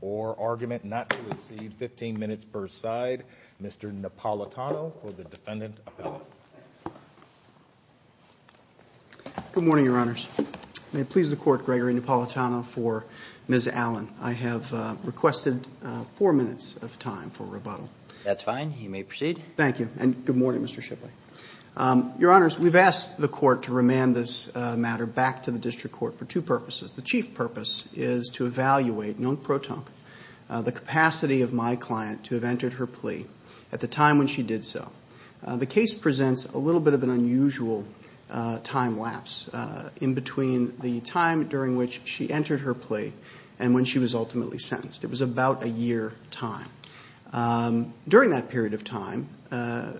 or argument not to exceed 15 minutes per side. Mr. Napolitano for the defendant's appellate. Good morning, Your Honors. May it please the Court, Gregory Napolitano for Ms. Allen. I have requested four minutes of time for rebuttal. That's fine. You may proceed. Thank you. And good morning, Mr. Shipley. Your Honors, we've asked the Court to remand this matter back to the District Court for two purposes. The chief purpose is to evaluate non-proton, the capacity of my client to have entered her plea at the time when she did so. The case presents a little bit of an unusual time lapse in between the time during which she entered her plea and when she was ultimately sentenced. It was about a year time. During that period of time,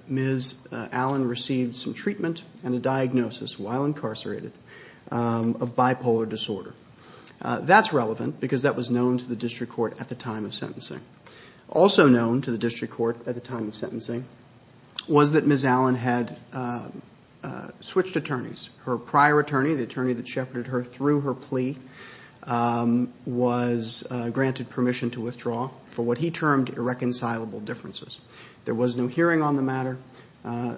Ms. Allen received some treatment and a diagnosis while incarcerated of bipolar disorder. That's relevant because that was known to the District Court at the time of sentencing. Also known to the District Court at the time of sentencing was that Ms. Allen had switched attorneys. Her prior attorney, the attorney that shepherded her through her hearing on the matter.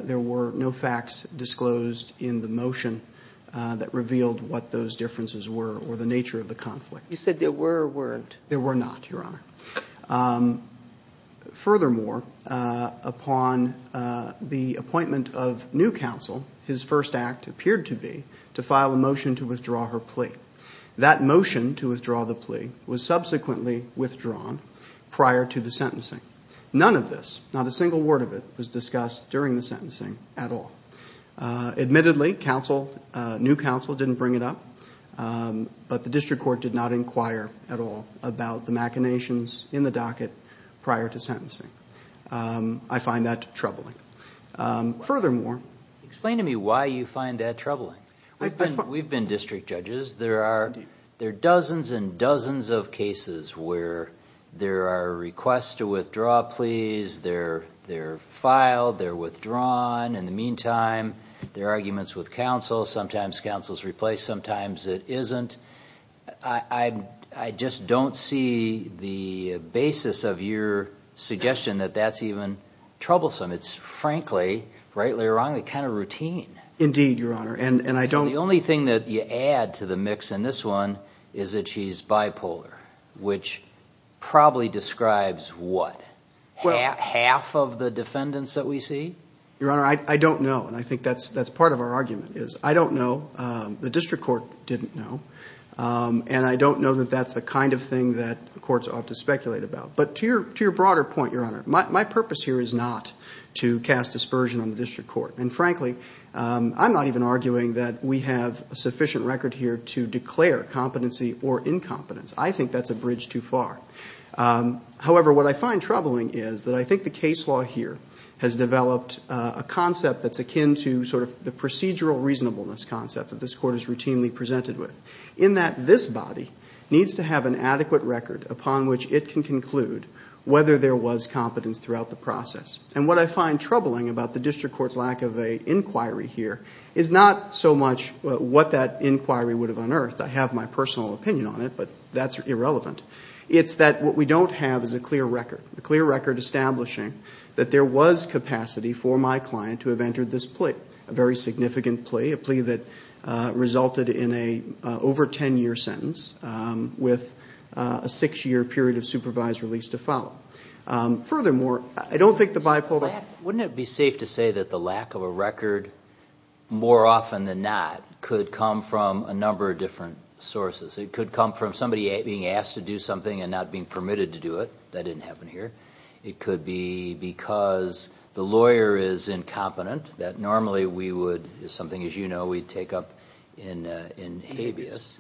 There were no facts disclosed in the motion that revealed what those differences were or the nature of the conflict. You said there were or weren't? There were not, Your Honor. Furthermore, upon the appointment of new counsel, his first act appeared to be to file a motion to withdraw her plea. That motion to withdraw the plea was subsequently withdrawn prior to the sentencing. None of this, not a single word of it, was discussed during the sentencing at all. Admittedly, new counsel didn't bring it up, but the District Court did not inquire at all about the machinations in the docket prior to sentencing. I find that troubling. Furthermore... Explain to me why you find that troubling. We've been talking to district judges. There are dozens and dozens of cases where there are requests to withdraw pleas. They're filed. They're withdrawn. In the meantime, there are arguments with counsel. Sometimes counsel's replaced. Sometimes it isn't. I just don't see the basis of your suggestion that that's even troublesome. It's frankly, rightly or wrongly, kind of add to the mix. This one is that she's bipolar, which probably describes what? Half of the defendants that we see? Your Honor, I don't know. I think that's part of our argument. I don't know. The District Court didn't know. I don't know that that's the kind of thing that courts ought to speculate about. To your broader point, Your Honor, my purpose here is not to cast dispersion on the District Court. Frankly, I'm not even arguing that we have a sufficient record here to declare competency or incompetence. I think that's a bridge too far. However, what I find troubling is that I think the case law here has developed a concept that's akin to sort of the procedural reasonableness concept that this Court is routinely presented with, in that this body needs to have an adequate record upon which it can conclude whether there was competence throughout the process. And what I find troubling about the District Court's lack of an inquiry here is not so much what that inquiry would have unearthed. I have my personal opinion on it, but that's irrelevant. It's that what we don't have is a clear record, a clear record establishing that there was capacity for my client to have entered this plea, a very significant plea, a plea that resulted in an over 10-year sentence with a six-year period of supervised release to follow. Furthermore, I don't think the bipolar... Wouldn't it be safe to say that the lack of a record, more often than not, could come from a number of different sources? It could come from somebody being asked to do something and not being permitted to do it. That didn't happen here. It could be because the lawyer is incompetent, that normally we would... something, as you know, we'd take up in habeas.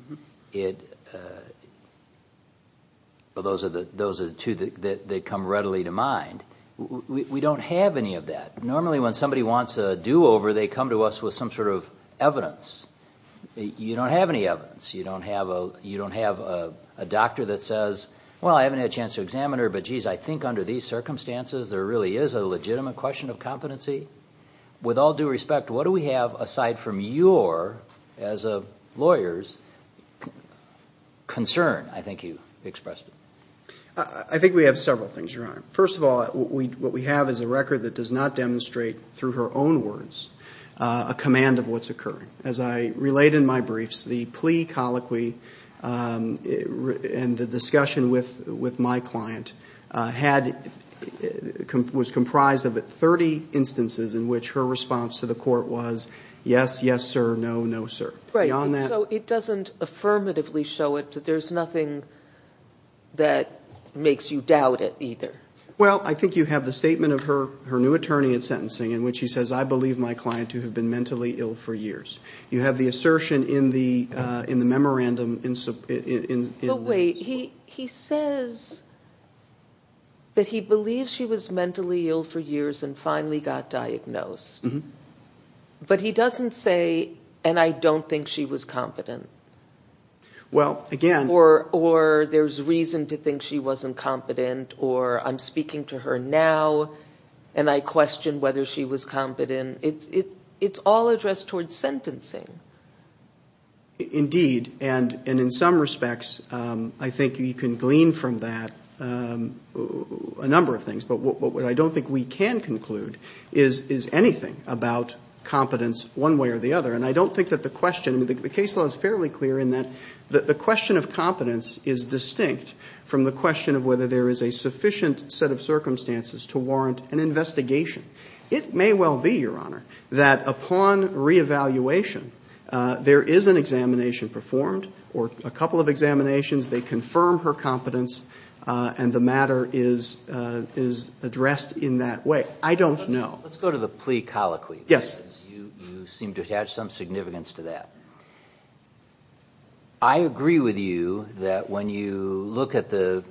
Those are the two that come readily to mind. We don't have any of that. Normally, when somebody wants a do-over, they come to us with some sort of evidence. You don't have any evidence. You don't have a doctor that says, well, I haven't had a chance to examine her, but geez, I think under these circumstances, there really is a legitimate question of competency. With all due respect, what do we have, aside from your, as a lawyer's, concern? I think you expressed it. I think we have several things, Your Honor. First of all, what we have is a record that does not demonstrate, through her own words, a command of what's occurring. As I relate in my briefs, the plea, colloquy, and the discussion with my client had... was comprised of 30 instances in which her response to the court was, yes, yes, sir, no, no, sir. Beyond that... So it doesn't affirmatively show it, but there's nothing that makes you doubt it, either? Well, I think you have the statement of her new attorney at sentencing, in which he says, I believe my client to have been mentally ill for years. You have the assertion in the memorandum... But wait, he says that he believes she was mentally ill for years and finally got diagnosed. But he doesn't say, and I don't think she was competent. Well, again... Or there's reason to think she wasn't competent, or I'm speaking to her now and I question whether she was competent. It's all addressed towards sentencing. Indeed, and in some respects, I think you can glean from that a number of things. But what I don't think we can conclude is anything about competence one way or the other. And I don't think that the question... the case law is fairly clear in that the question of competence is distinct from the question of whether there is a sufficient set of circumstances to warrant an investigation. It may well be, Your Honor, that upon reevaluation, there is an examination performed or a couple of examinations, they confirm her competence, and the matter is addressed in that way. I don't know. Let's go to the plea colloquy, because you seem to attach some significance to that. I agree with you that when you look at the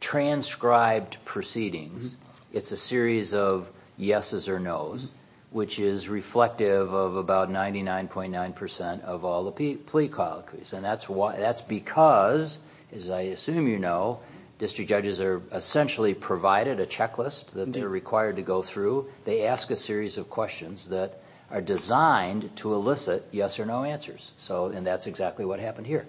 transcribed proceedings, it's a series of 99.9 percent of all the plea colloquies. And that's because, as I assume you know, district judges are essentially provided a checklist that they're required to go through. They ask a series of questions that are designed to elicit yes or no answers. And that's exactly what happened here.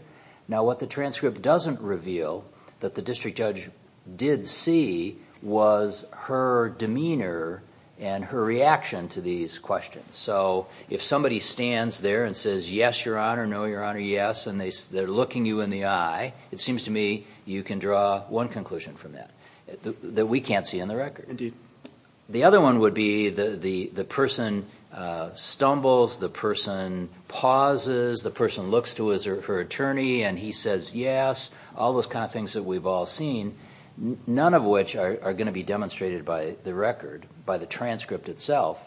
Now, what the transcript doesn't reveal, that the district judge did see, was her demeanor and her reaction to these questions. So if somebody stands there and says, yes, Your Honor, no, Your Honor, yes, and they're looking you in the eye, it seems to me you can draw one conclusion from that that we can't see in the record. The other one would be the person stumbles, the person pauses, the person looks to her attorney and he says yes, all those kind of things that we've all seen, none of which are going to be demonstrated by the record, by the transcript itself,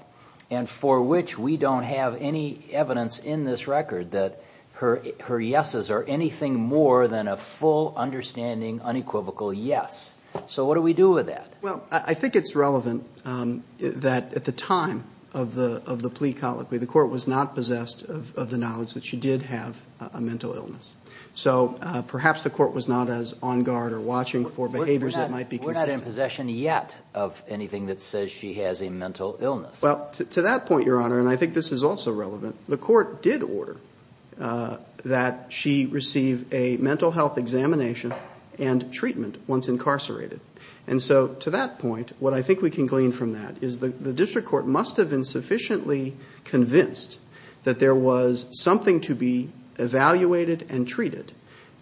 and for which we don't have any evidence in this record that her yeses are anything more than a full understanding unequivocal yes. So what do we do with that? Well, I think it's relevant that at the time of the plea colloquy, the court was not possessed of the knowledge that she did have a mental illness. So perhaps the court was not as on guard or watching for behaviors that might be consistent. Possession yet of anything that says she has a mental illness. Well, to that point, Your Honor, and I think this is also relevant, the court did order that she receive a mental health examination and treatment once incarcerated. And so to that point, what I think we can glean from that is the district court must have been sufficiently convinced that there was something to be evaluated and treated.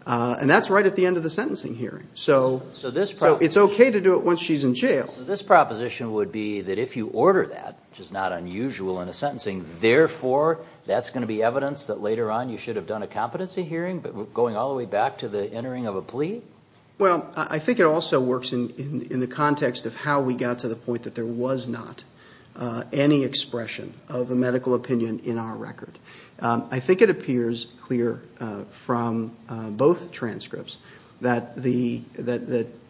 And that's right at the end of the sentencing hearing. So it's okay to do it once she's in jail. So this proposition would be that if you order that, which is not unusual in a sentencing, therefore, that's going to be evidence that later on you should have done a competency hearing going all the way back to the entering of a plea? Well, I think it also works in the context of how we got to the point that there was not any expression of a medical opinion in our record. I think it appears clear from both transcripts that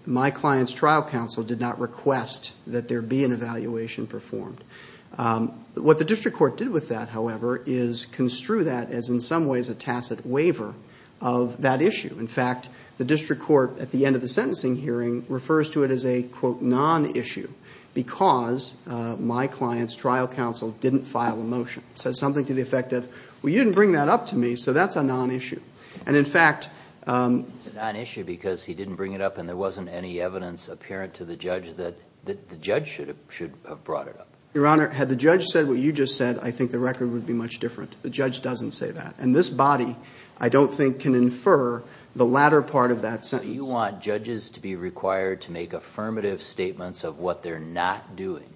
my client's trial counsel did not request that there be an evaluation performed. What the district court did with that, however, is construe that as in some ways a tacit waiver of that issue. In fact, the district court at the end of the sentencing hearing refers to it as a, quote, non-issue because my client's trial counsel didn't file a motion. It says something to the effect of, well, you didn't bring that up to me, so that's a non-issue. It's a non-issue because he didn't bring it up and there wasn't any evidence apparent to the judge that the judge should have brought it up. Your Honor, had the judge said what you just said, I think the record would be much different. The judge doesn't say that. This body, I don't think, can infer the latter part of that sentence. You want judges to be required to make affirmative statements of what they're not doing?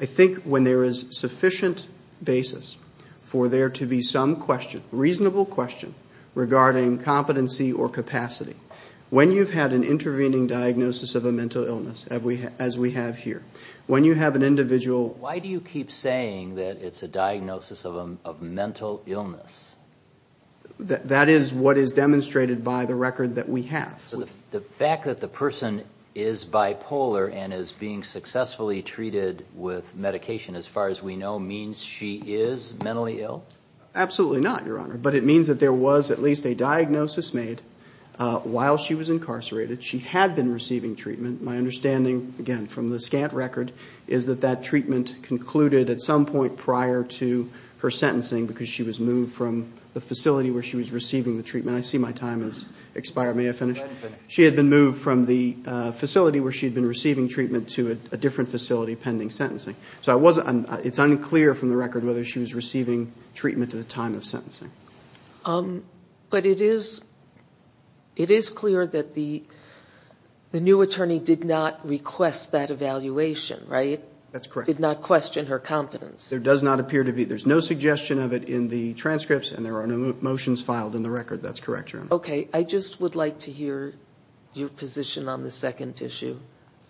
I think when there is sufficient basis for there to be some question, reasonable question, regarding competency or capacity, when you've had an intervening diagnosis of a mental illness, as we have here, when you have an individual... Why do you keep saying that it's a diagnosis of a mental illness? That is what is demonstrated by the record that we have. The fact that the person is bipolar and is being successfully treated with medication, as far as we know, means she is mentally ill? Absolutely not, Your Honor. But it means that there was at least a diagnosis made while she was incarcerated. She had been receiving treatment. My understanding, again, from the scant record, is that that treatment concluded at some point prior to her sentencing because she was moved from the facility where she was receiving the treatment. I see my time has expired. May I finish? She had been moved from the facility where she had been receiving treatment to a different facility pending sentencing. So it's unclear from the record whether she was receiving treatment at the time of sentencing. But it is clear that the new attorney did not request that evaluation, right? That's correct. Did not question her confidence. There does not appear to be... There's no suggestion of it in the transcripts, and there are no motions filed in the record. That's correct, Your Honor. Okay. I just would like to hear your position on the second issue.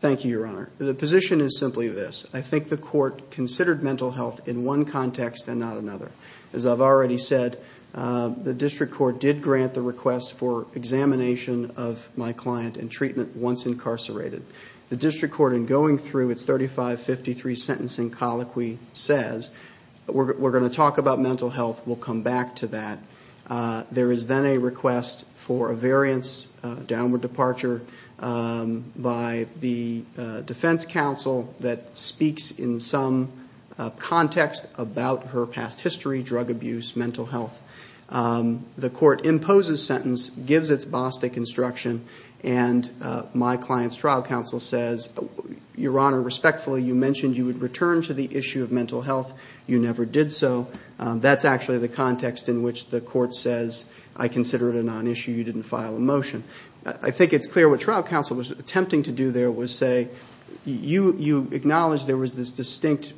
Thank you, Your Honor. The position is simply this. I think the court considered mental health in one context and not another. As I've already said, the district court did grant the request for examination of my client and treatment once incarcerated. The district court, in going through its 3553 sentencing colloquy, says, we're going to talk about mental health. We'll come back to that. There is then a request for a variance, a downward departure by the defense counsel that speaks in some context about her past history, drug abuse, mental health. The court imposes sentence, gives its BOSTEC instruction, and my client's trial counsel says, Your Honor, respectfully, you mentioned you would return to the issue of mental health. You never did so. That's actually the context in which the court says, I consider it a non-issue. You didn't file a motion. I think it's clear what trial counsel was attempting to do there was say, you acknowledge there was this distinct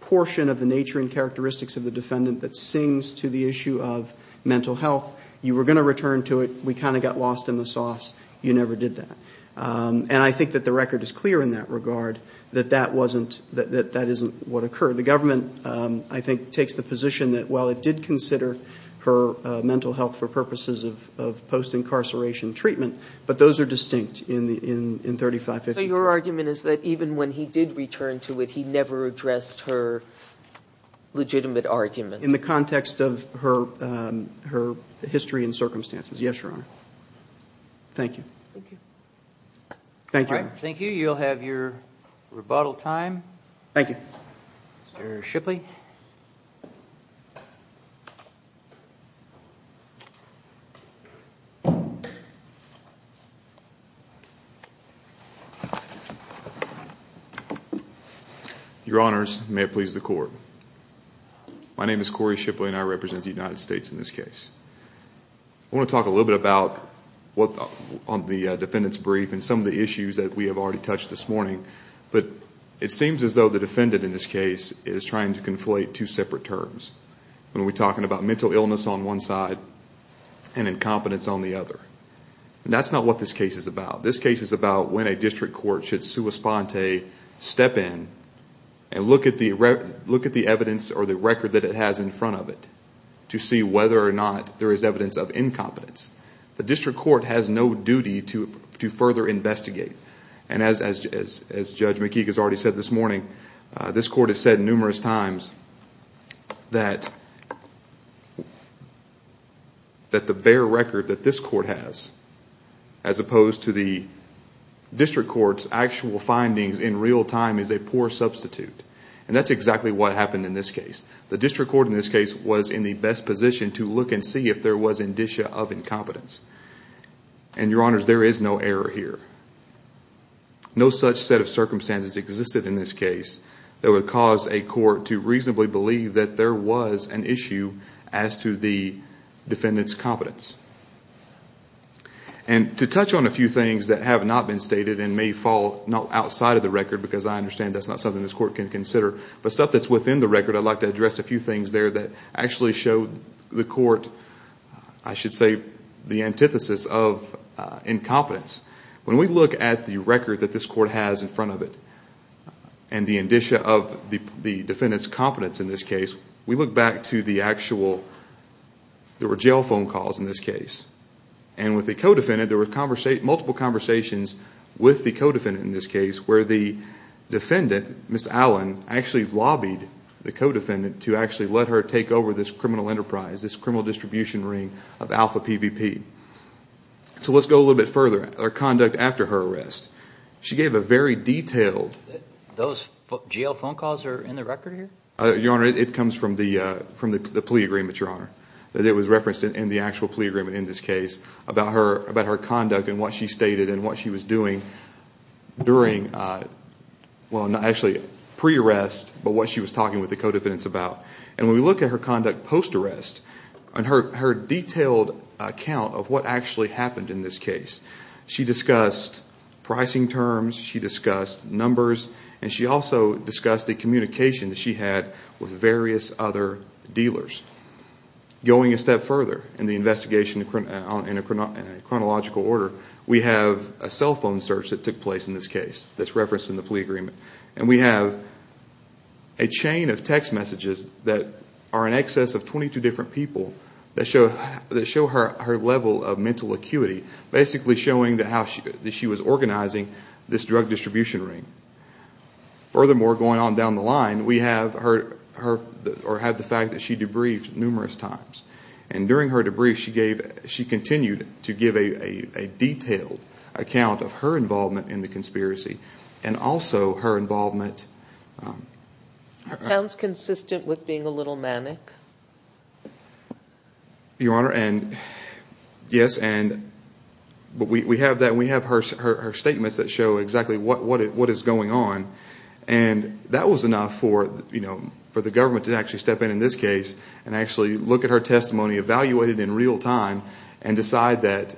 portion of the nature and characteristics of the defendant that sings to the issue of mental health. You were going to return to it. We kind of got lost in the sauce. You never did that. I think that the record is clear in that regard that that isn't what occurred. The government, I think, takes the position that while it did consider her mental health for purposes of post-incarceration treatment, but those are distinct in 3553. So your argument is that even when he did return to it, he never addressed her legitimate argument? In the context of her history and circumstances. Yes, Your Honor. Thank you. Thank you. Thank you. Thank you. You'll have your rebuttal time. Thank you. Mr. Shipley. Your Honors, may it please the court. My name is Corey Shipley and I represent the United States in this case. I want to talk a little bit about the defendant's brief and some of the issues that we have already touched this morning. But it seems as though the defendant in this case is trying to conflate two separate terms. When we're talking about mental illness on one side and incompetence on the other. That's not what this case is about. This case is about when a district court should sua sponte step in and look at the evidence or the record that it has in front of it to see whether or not there is evidence of incompetence. The district court has no duty to further investigate. And as Judge McKeague has already said this morning, this court has said numerous times that the bare record that this court has as opposed to the district court's actual findings in real time is a poor substitute. And that's exactly what happened in this case. The district court in this case was in the best position to look and see if there was indicia of incompetence. And your honors, there is no error here. No such set of circumstances existed in this case that would cause a court to reasonably believe that there was an issue as to the defendant's competence. And to touch on a few things that have not been stated and may fall not outside of the record because I understand that's not something this court can consider. But stuff that's within the record, I'd like to address a few things there that actually show the court, I should say, the antithesis of incompetence. When we look at the record that this court has in front of it and the indicia of the defendant's competence in this case, we look back to the actual, there were jail phone calls in this case. And with the co-defendant, there were multiple conversations with the co-defendant in this case where the defendant, Ms. Allen, actually lobbied the co-defendant to actually let her take over this criminal enterprise, this criminal distribution ring of Alpha PVP. So let's go a little bit further, her conduct after her arrest. She gave a very detailed. Those jail phone calls are in the record here? Your honor, it comes from the plea agreement, your honor. It was referenced in the actual plea agreement in this case about her conduct and what she stated and what she was doing during, well, actually pre-arrest, but what she was talking with the co-defendants about. And when we look at her conduct post-arrest and her detailed account of what actually happened in this case, she discussed pricing terms, she discussed numbers, and she also discussed the communication that she had with various other dealers. Going a step further in the investigation in a chronological order, we have a cell phone search that took place in this case that's referenced in the plea agreement. And we have a chain of text messages that are in excess of 22 different people that show her level of mental acuity, basically showing that she was organizing this drug distribution ring. Furthermore, going on down the line, we have her, or have the fact that she debriefed numerous times. And during her debrief, she gave, she continued to give a detailed account of her involvement in the conspiracy and also her involvement. It sounds consistent with being a little manic. Your Honor, and yes, and we have that, and we have her statements that show exactly what is going on. And that was enough for, you know, for the government to actually step in, in this case, and actually look at her testimony, evaluate it in real time, and decide that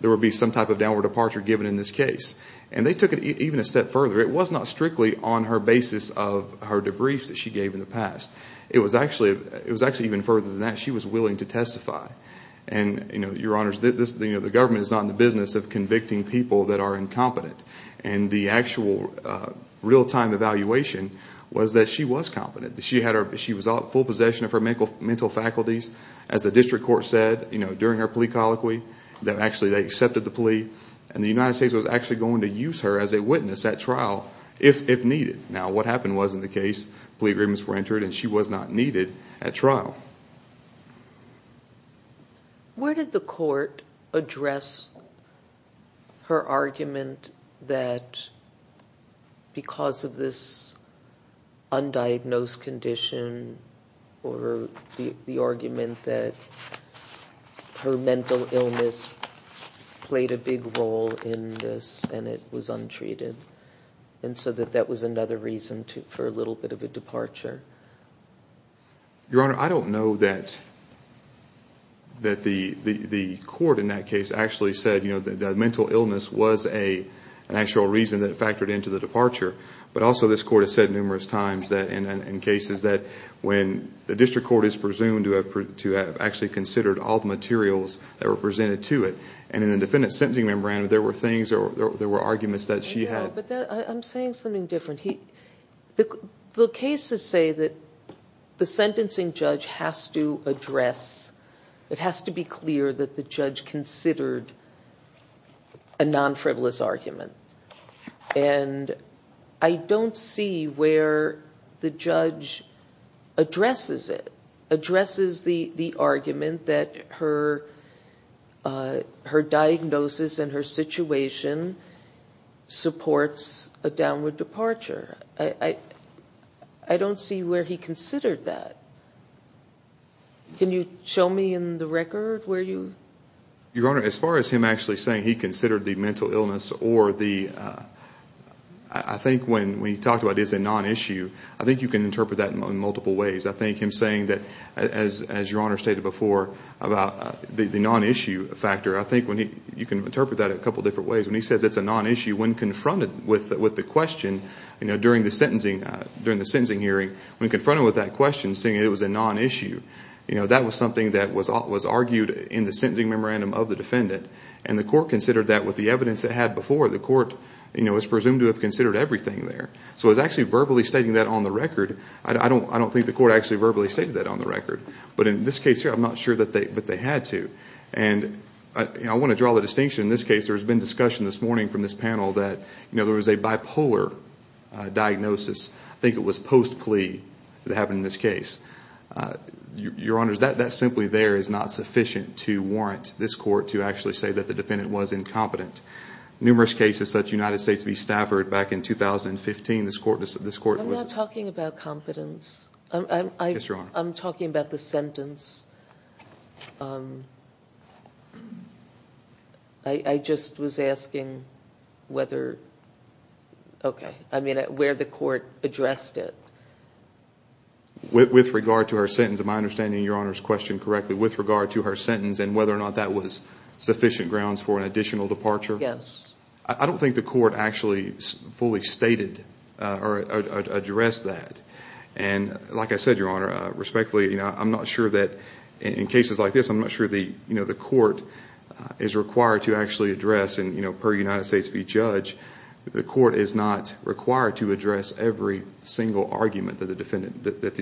there would be some type of downward departure given in this case. And they took it even a step further. It was not strictly on her basis of her debriefs that she gave in the past. It was actually, it was actually even further than that. She was willing to testify. And, you know, Your Honors, this, you know, the government is not in the business of convicting people that are incompetent. And the actual real-time evaluation was that she was competent. She had her, she was full possession of her mental faculties. As the district court said, you know, during her plea colloquy, that actually they accepted the plea. And the United States was actually going to use her as a witness at trial if needed. Now, what happened was, in the case, plea agreements were entered and she was not needed at trial. Where did the court address her argument that because of this undiagnosed condition or the argument that her mental illness played a big role in this and it was untreated? And so that that was another reason for a little bit of a departure? Your Honor, I don't know that the court in that case actually said, you know, that the mental illness was an actual reason that factored into the departure. But also, this court has said numerous times that in cases that when the district court is presumed to have actually considered all the materials that were presented to it, and in the defendant's sentencing memorandum, there were things or there were arguments that she had. But I'm saying something different. The cases say that the sentencing judge has to address, it has to be clear that the judge considered a non-frivolous argument. And I don't see where the judge addresses it, addresses the argument that her diagnosis and her situation supports a downward departure. I don't see where he considered that. Can you show me in the record where you? Your Honor, as far as him actually saying he considered the mental illness or the, I think when he talked about it as a non-issue, I think you can interpret that in multiple ways. I think him saying that, as Your Honor stated before, about the non-issue factor, I think you can interpret that a couple of different ways. When he says it's a non-issue, when confronted with the question, you know, during the sentencing hearing, when confronted with that question, saying it was a non-issue, you know, that was something that was argued in the sentencing memorandum of the defendant. And the court considered that with the evidence it had before. The court, you know, is presumed to have considered everything there. So it was actually verbally stating that on the record. I don't think the court actually verbally stated that on the record. But in this case here, I'm not sure that they had to. And I want to draw the distinction in this case. There's been discussion this morning from this panel that, you know, there was a bipolar diagnosis. I think it was post-plea that happened in this case. Your Honor, that simply there is not sufficient to warrant this court to actually say that the defendant was incompetent. Numerous cases such as the United States v. Stafford back in 2015, this court was... I'm not talking about competence. Yes, Your Honor. I'm talking about the sentence. I just was asking whether... Okay, I mean, where the court addressed it. With regard to her sentence, am I understanding Your Honor's question correctly? With regard to her sentence and whether or not that was sufficient grounds for an additional departure? Yes. I don't think the court actually fully stated or addressed that. And like I said, Your Honor, respectfully, you know, I'm not sure that in cases like this, I'm not sure, you know, the court is required to actually address. And, you know, per United States v. Judge, the court is not required to address every single argument that the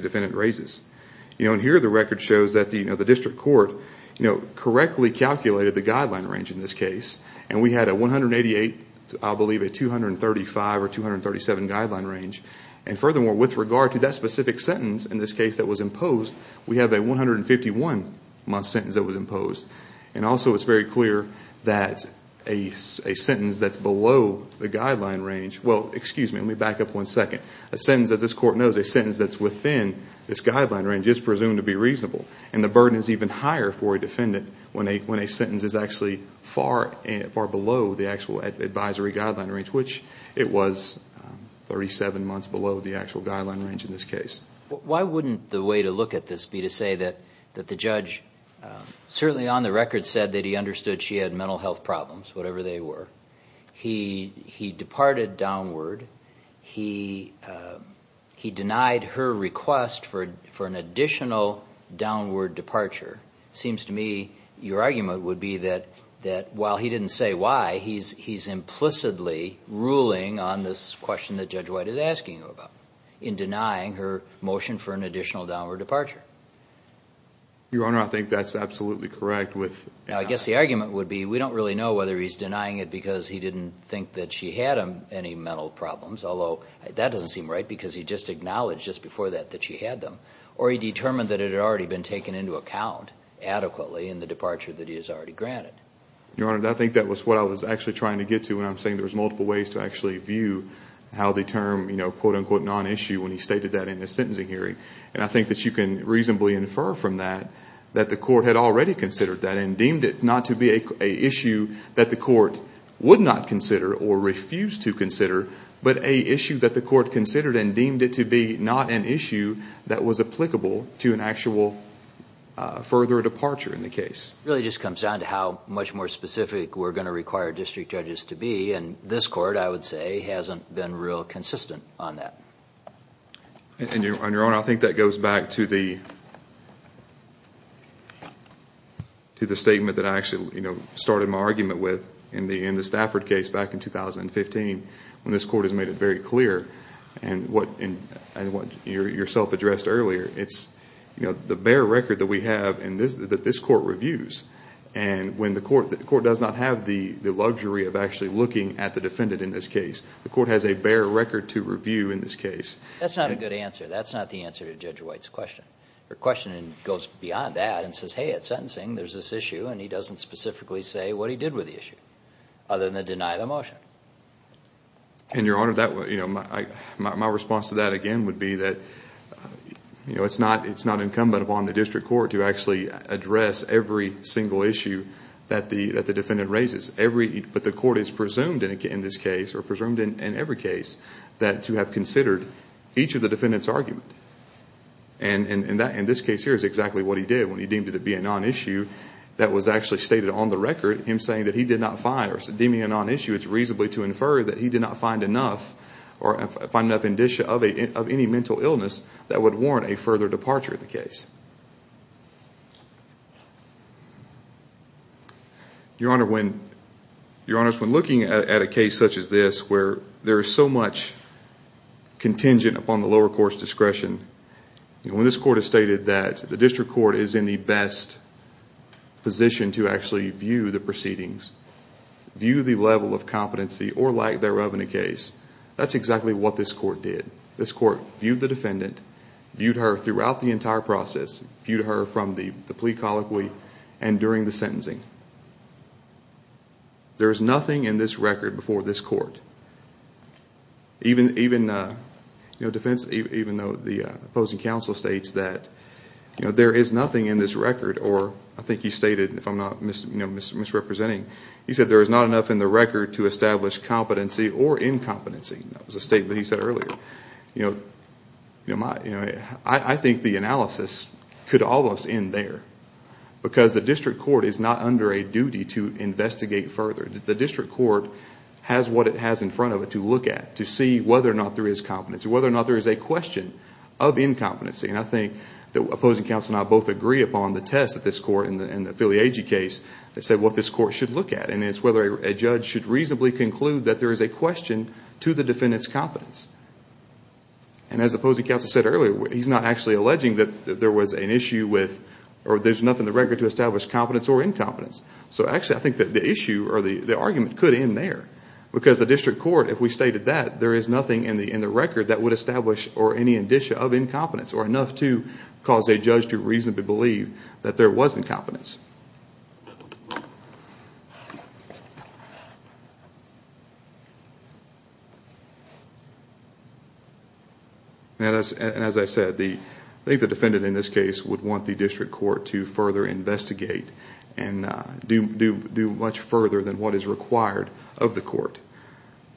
defendant raises. You know, and here the record shows that, you know, the district court, you know, correctly calculated the guideline range in this case. And we had a 188, I believe a 235 or 237 guideline range. And furthermore, with regard to that specific sentence in this case that was imposed, we have a 151 month sentence that was imposed. And also it's very clear that a sentence that's below the guideline range... Well, excuse me, let me back up one second. A sentence, as this court knows, a sentence that's within this guideline range is presumed to be reasonable. And the burden is even higher for a defendant when a sentence is actually far below the actual advisory guideline range, which it was 37 months below the actual guideline range in this case. Why wouldn't the way to look at this be to say that the judge, certainly on the record, said that he understood she had mental health problems, whatever they were. He departed downward. He denied her request for an additional downward departure. Seems to me your argument would be that while he didn't say why, he's implicitly ruling on this question that Judge White is asking about in denying her motion for an additional downward departure. Your Honor, I think that's absolutely correct with... I guess the argument would be we don't really know whether he's denying it because he didn't think that she had any mental problems, although that doesn't seem right because he just acknowledged just before that that she had them. Or he determined that it had already been taken into account adequately in the departure that he has already granted. Your Honor, I think that was what I was actually trying to get to when I'm saying there was multiple ways to actually view how the term, you know, quote-unquote non-issue when he stated that in his sentencing hearing. And I think that you can reasonably infer from that that the court had already considered that and deemed it not to be a issue that the court would not consider or refuse to consider, but a issue that the court considered and deemed it to be not an issue that was applicable to an actual further departure in the case. It really just comes down to how much more specific we're going to require district judges to be. And this court, I would say, hasn't been real consistent on that. And Your Honor, I think that goes back to the... ..to the statement that I actually, you know, started my argument with in the Stafford case back in 2015 when this court has made it very clear. And what you yourself addressed earlier, it's, you know, the bare record that we have that this court reviews. And when the court does not have the luxury of actually looking at the defendant in this case, the court has a bare record to review in this case. That's not a good answer. That's not the answer to Judge White's question. Her question goes beyond that and says, hey, at sentencing there's this issue and he doesn't specifically say what he did with the issue, other than to deny the motion. And Your Honor, my response to that, again, would be that, you know, it's not incumbent upon the district court to actually address every single issue that the defendant raises. Every...but the court has presumed in this case, or presumed in every case, that to have considered each of the defendant's arguments. And in this case here is exactly what he did when he deemed it to be a non-issue that was actually stated on the record, him saying that he did not find, or deeming a non-issue, it's reasonably to infer that he did not find enough, or find enough indicia of any mental illness that would warrant a further departure of the case. Your Honor, when... Your Honors, when looking at a case such as this, where there is so much contingent upon the lower court's discretion, when this court has stated that the district court is in the best position to actually view the proceedings, view the level of competency or lack thereof in a case, that's exactly what this court did. This court viewed the defendant, viewed her throughout the entire process, viewed her from the plea colloquy and during the sentencing. There is nothing in this record before this court, even though the opposing counsel states that there is nothing in this record, or I think he stated, if I'm not misrepresenting, he said there is not enough in the record to establish competency or incompetency. That was a statement he said earlier. You know, I think the analysis could almost end there, because the district court is not under the discretion or under a duty to investigate further. The district court has what it has in front of it to look at, to see whether or not there is competency, whether or not there is a question of incompetency. And I think the opposing counsel and I both agree upon the test of this court in the Filiage case that said what this court should look at, and it's whether a judge should reasonably conclude that there is a question to the defendant's competence. And as the opposing counsel said earlier, he's not actually alleging that there was an issue with, or there's nothing in the record to establish competence or incompetence. So actually, I think that the issue or the argument could end there, because the district court, if we stated that, there is nothing in the record that would establish or any indicia of incompetence, or enough to cause a judge to reasonably believe that there was incompetence. And as I said, I think the defendant in this case would want the district court to further investigate and do much further than what is required of the court.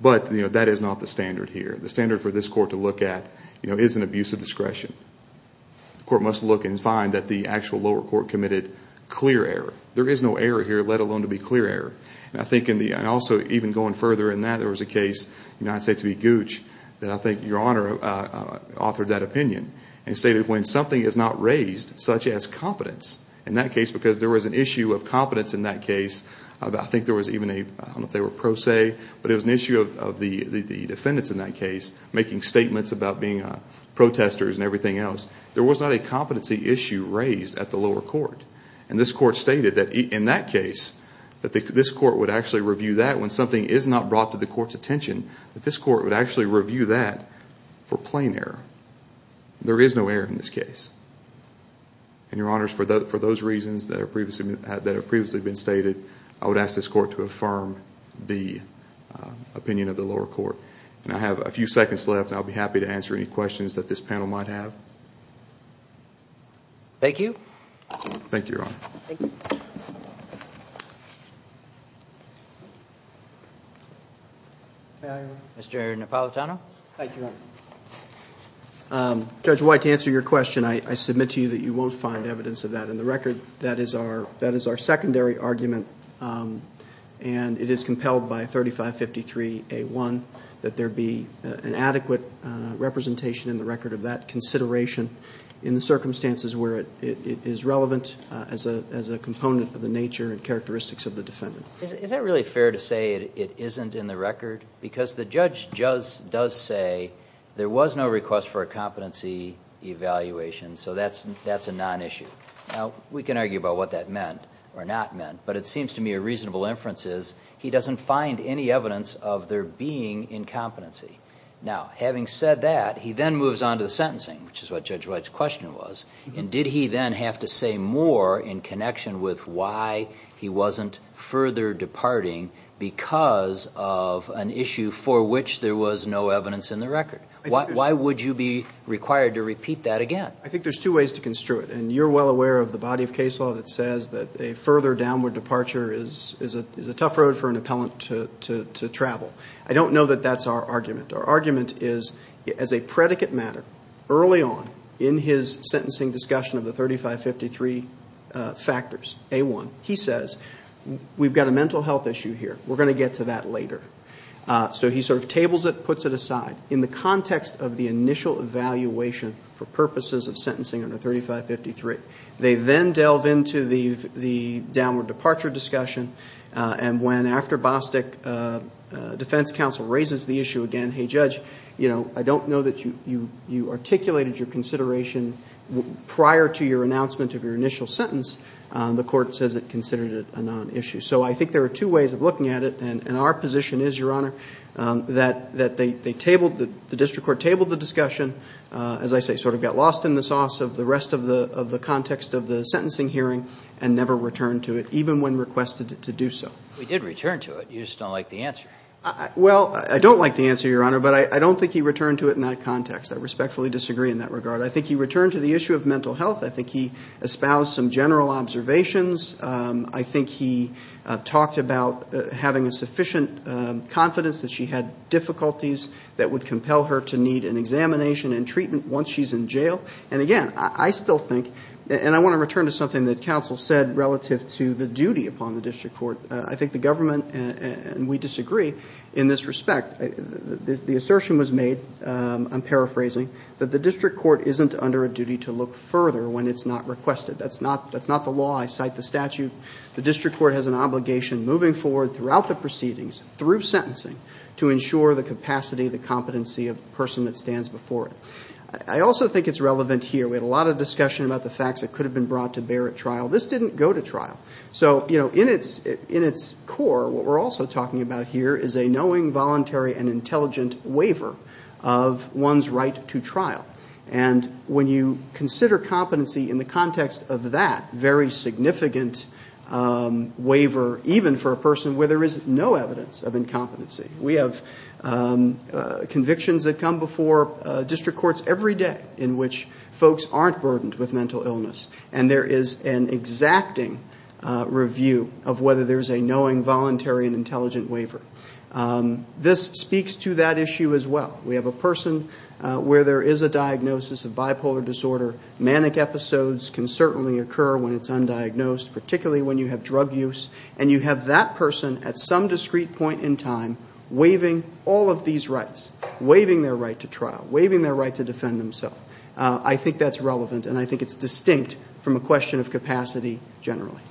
But that is not the standard here. The standard for this court to look at is an abuse of discretion. The court must look and find that the actual lower court committed clear error. There is no error here, let alone to be clear error. And I think in the, and also even going further in that, there was a case, United States v. Gooch, that I think Your Honor authored that opinion and stated when something is not raised, such as competence, in that case, because there was an issue of competence in that case, I think there was even a, I don't know if they were pro se, but it was an issue of the defendants in that case making statements about being protesters and everything else. There was not a competency issue raised at the lower court. And this court stated that in that case, that this court would actually review that when something is not brought to the court's attention, that this court would actually review that for plain error. There is no error in this case. And Your Honors, for those reasons that have previously been stated, I would ask this court to affirm the opinion of the lower court. And I have a few seconds left, and I'll be happy to answer any questions that this panel might have. Thank you. Thank you, Your Honor. Mr. Napolitano. Thank you, Your Honor. Judge White, to answer your question, I submit to you that you won't find evidence of that. In the record, that is our secondary argument. And it is compelled by 3553A1 that there be an adequate representation in the record of that consideration in the circumstances where it is relevant as a component of the nature and characteristics of the defendant. Is it really fair to say it isn't in the record? Because the judge does say there was no request for a competency evaluation, so that's a non-issue. Now, we can argue about what that meant or not meant, but it seems to me a reasonable inference is he doesn't find any evidence of there being incompetency. Now, having said that, he then moves on to the sentencing, which is what Judge White's question was. And did he then have to say more in connection with why he wasn't further departing because of an issue for which there was no evidence in the record? Why would you be required to repeat that again? I think there's two ways to construe it. And you're well aware of the body of case law that says that a further downward departure is a tough road for an appellant to travel. I don't know that that's our argument. Our argument is, as a predicate matter, early on in his sentencing discussion of the 3553 factors, A1, he says, we've got a mental health issue here. We're going to get to that later. So he sort of tables it, puts it aside in the context of the initial evaluation for purposes of sentencing under 3553. They then delve into the downward departure discussion. And when, after Bostick, defense counsel raises the issue again, hey, Judge, you know, I don't know that you articulated your consideration prior to your announcement of your initial sentence. The court says it considered it a non-issue. So I think there are two ways of looking at it. And our position is, Your Honor, that they tabled, the district court tabled the discussion, as I say, sort of got lost in the sauce of the rest of the context of the sentencing hearing and never returned to it, even when requested to do so. We did return to it. You just don't like the answer. Well, I don't like the answer, Your Honor. But I don't think he returned to it in that context. I respectfully disagree in that regard. I think he returned to the issue of mental health. I think he espoused some general observations. I think he talked about having a sufficient confidence that she had difficulties that would compel her to need an examination and treatment once she's in jail. And again, I still think, and I want to return to something that counsel said relative to the duty upon the district court. I think the government, and we disagree in this respect, the assertion was made, I'm paraphrasing, that the district court isn't under a duty to look further when it's not requested. That's not the law. I cite the statute. The district court has an obligation moving forward throughout the proceedings, through sentencing, to ensure the capacity, the competency of the person that stands before it. I also think it's relevant here. We had a lot of discussion about the facts that could have been brought to bear at trial. This didn't go to trial. So, you know, in its core, what we're also talking about here is a knowing, voluntary, and intelligent waiver of one's right to trial. And when you consider competency in the context of that very significant waiver, even for a person where there is no evidence of incompetency, we have convictions that come before district courts every day in which folks aren't burdened with mental illness. And there is an exacting review of whether there's a knowing, voluntary, and intelligent waiver. This speaks to that issue as well. We have a person where there is a diagnosis of bipolar disorder. Manic episodes can certainly occur when it's undiagnosed, particularly when you have drug use. And you have that person at some discrete point in time waiving all of these rights, waiving their right to trial, waiving their right to defend themselves. I think that's relevant, and I think it's distinct from a question of capacity generally.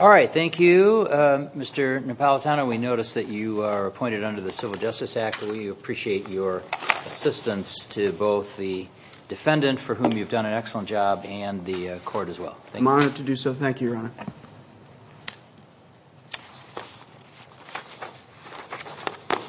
All right, thank you, Mr. Napolitano. We notice that you are appointed under the Civil Justice Act. We appreciate your assistance to both the defendant, for whom you've done an excellent job, and the court as well. I'm honored to do so. Thank you, Your Honor.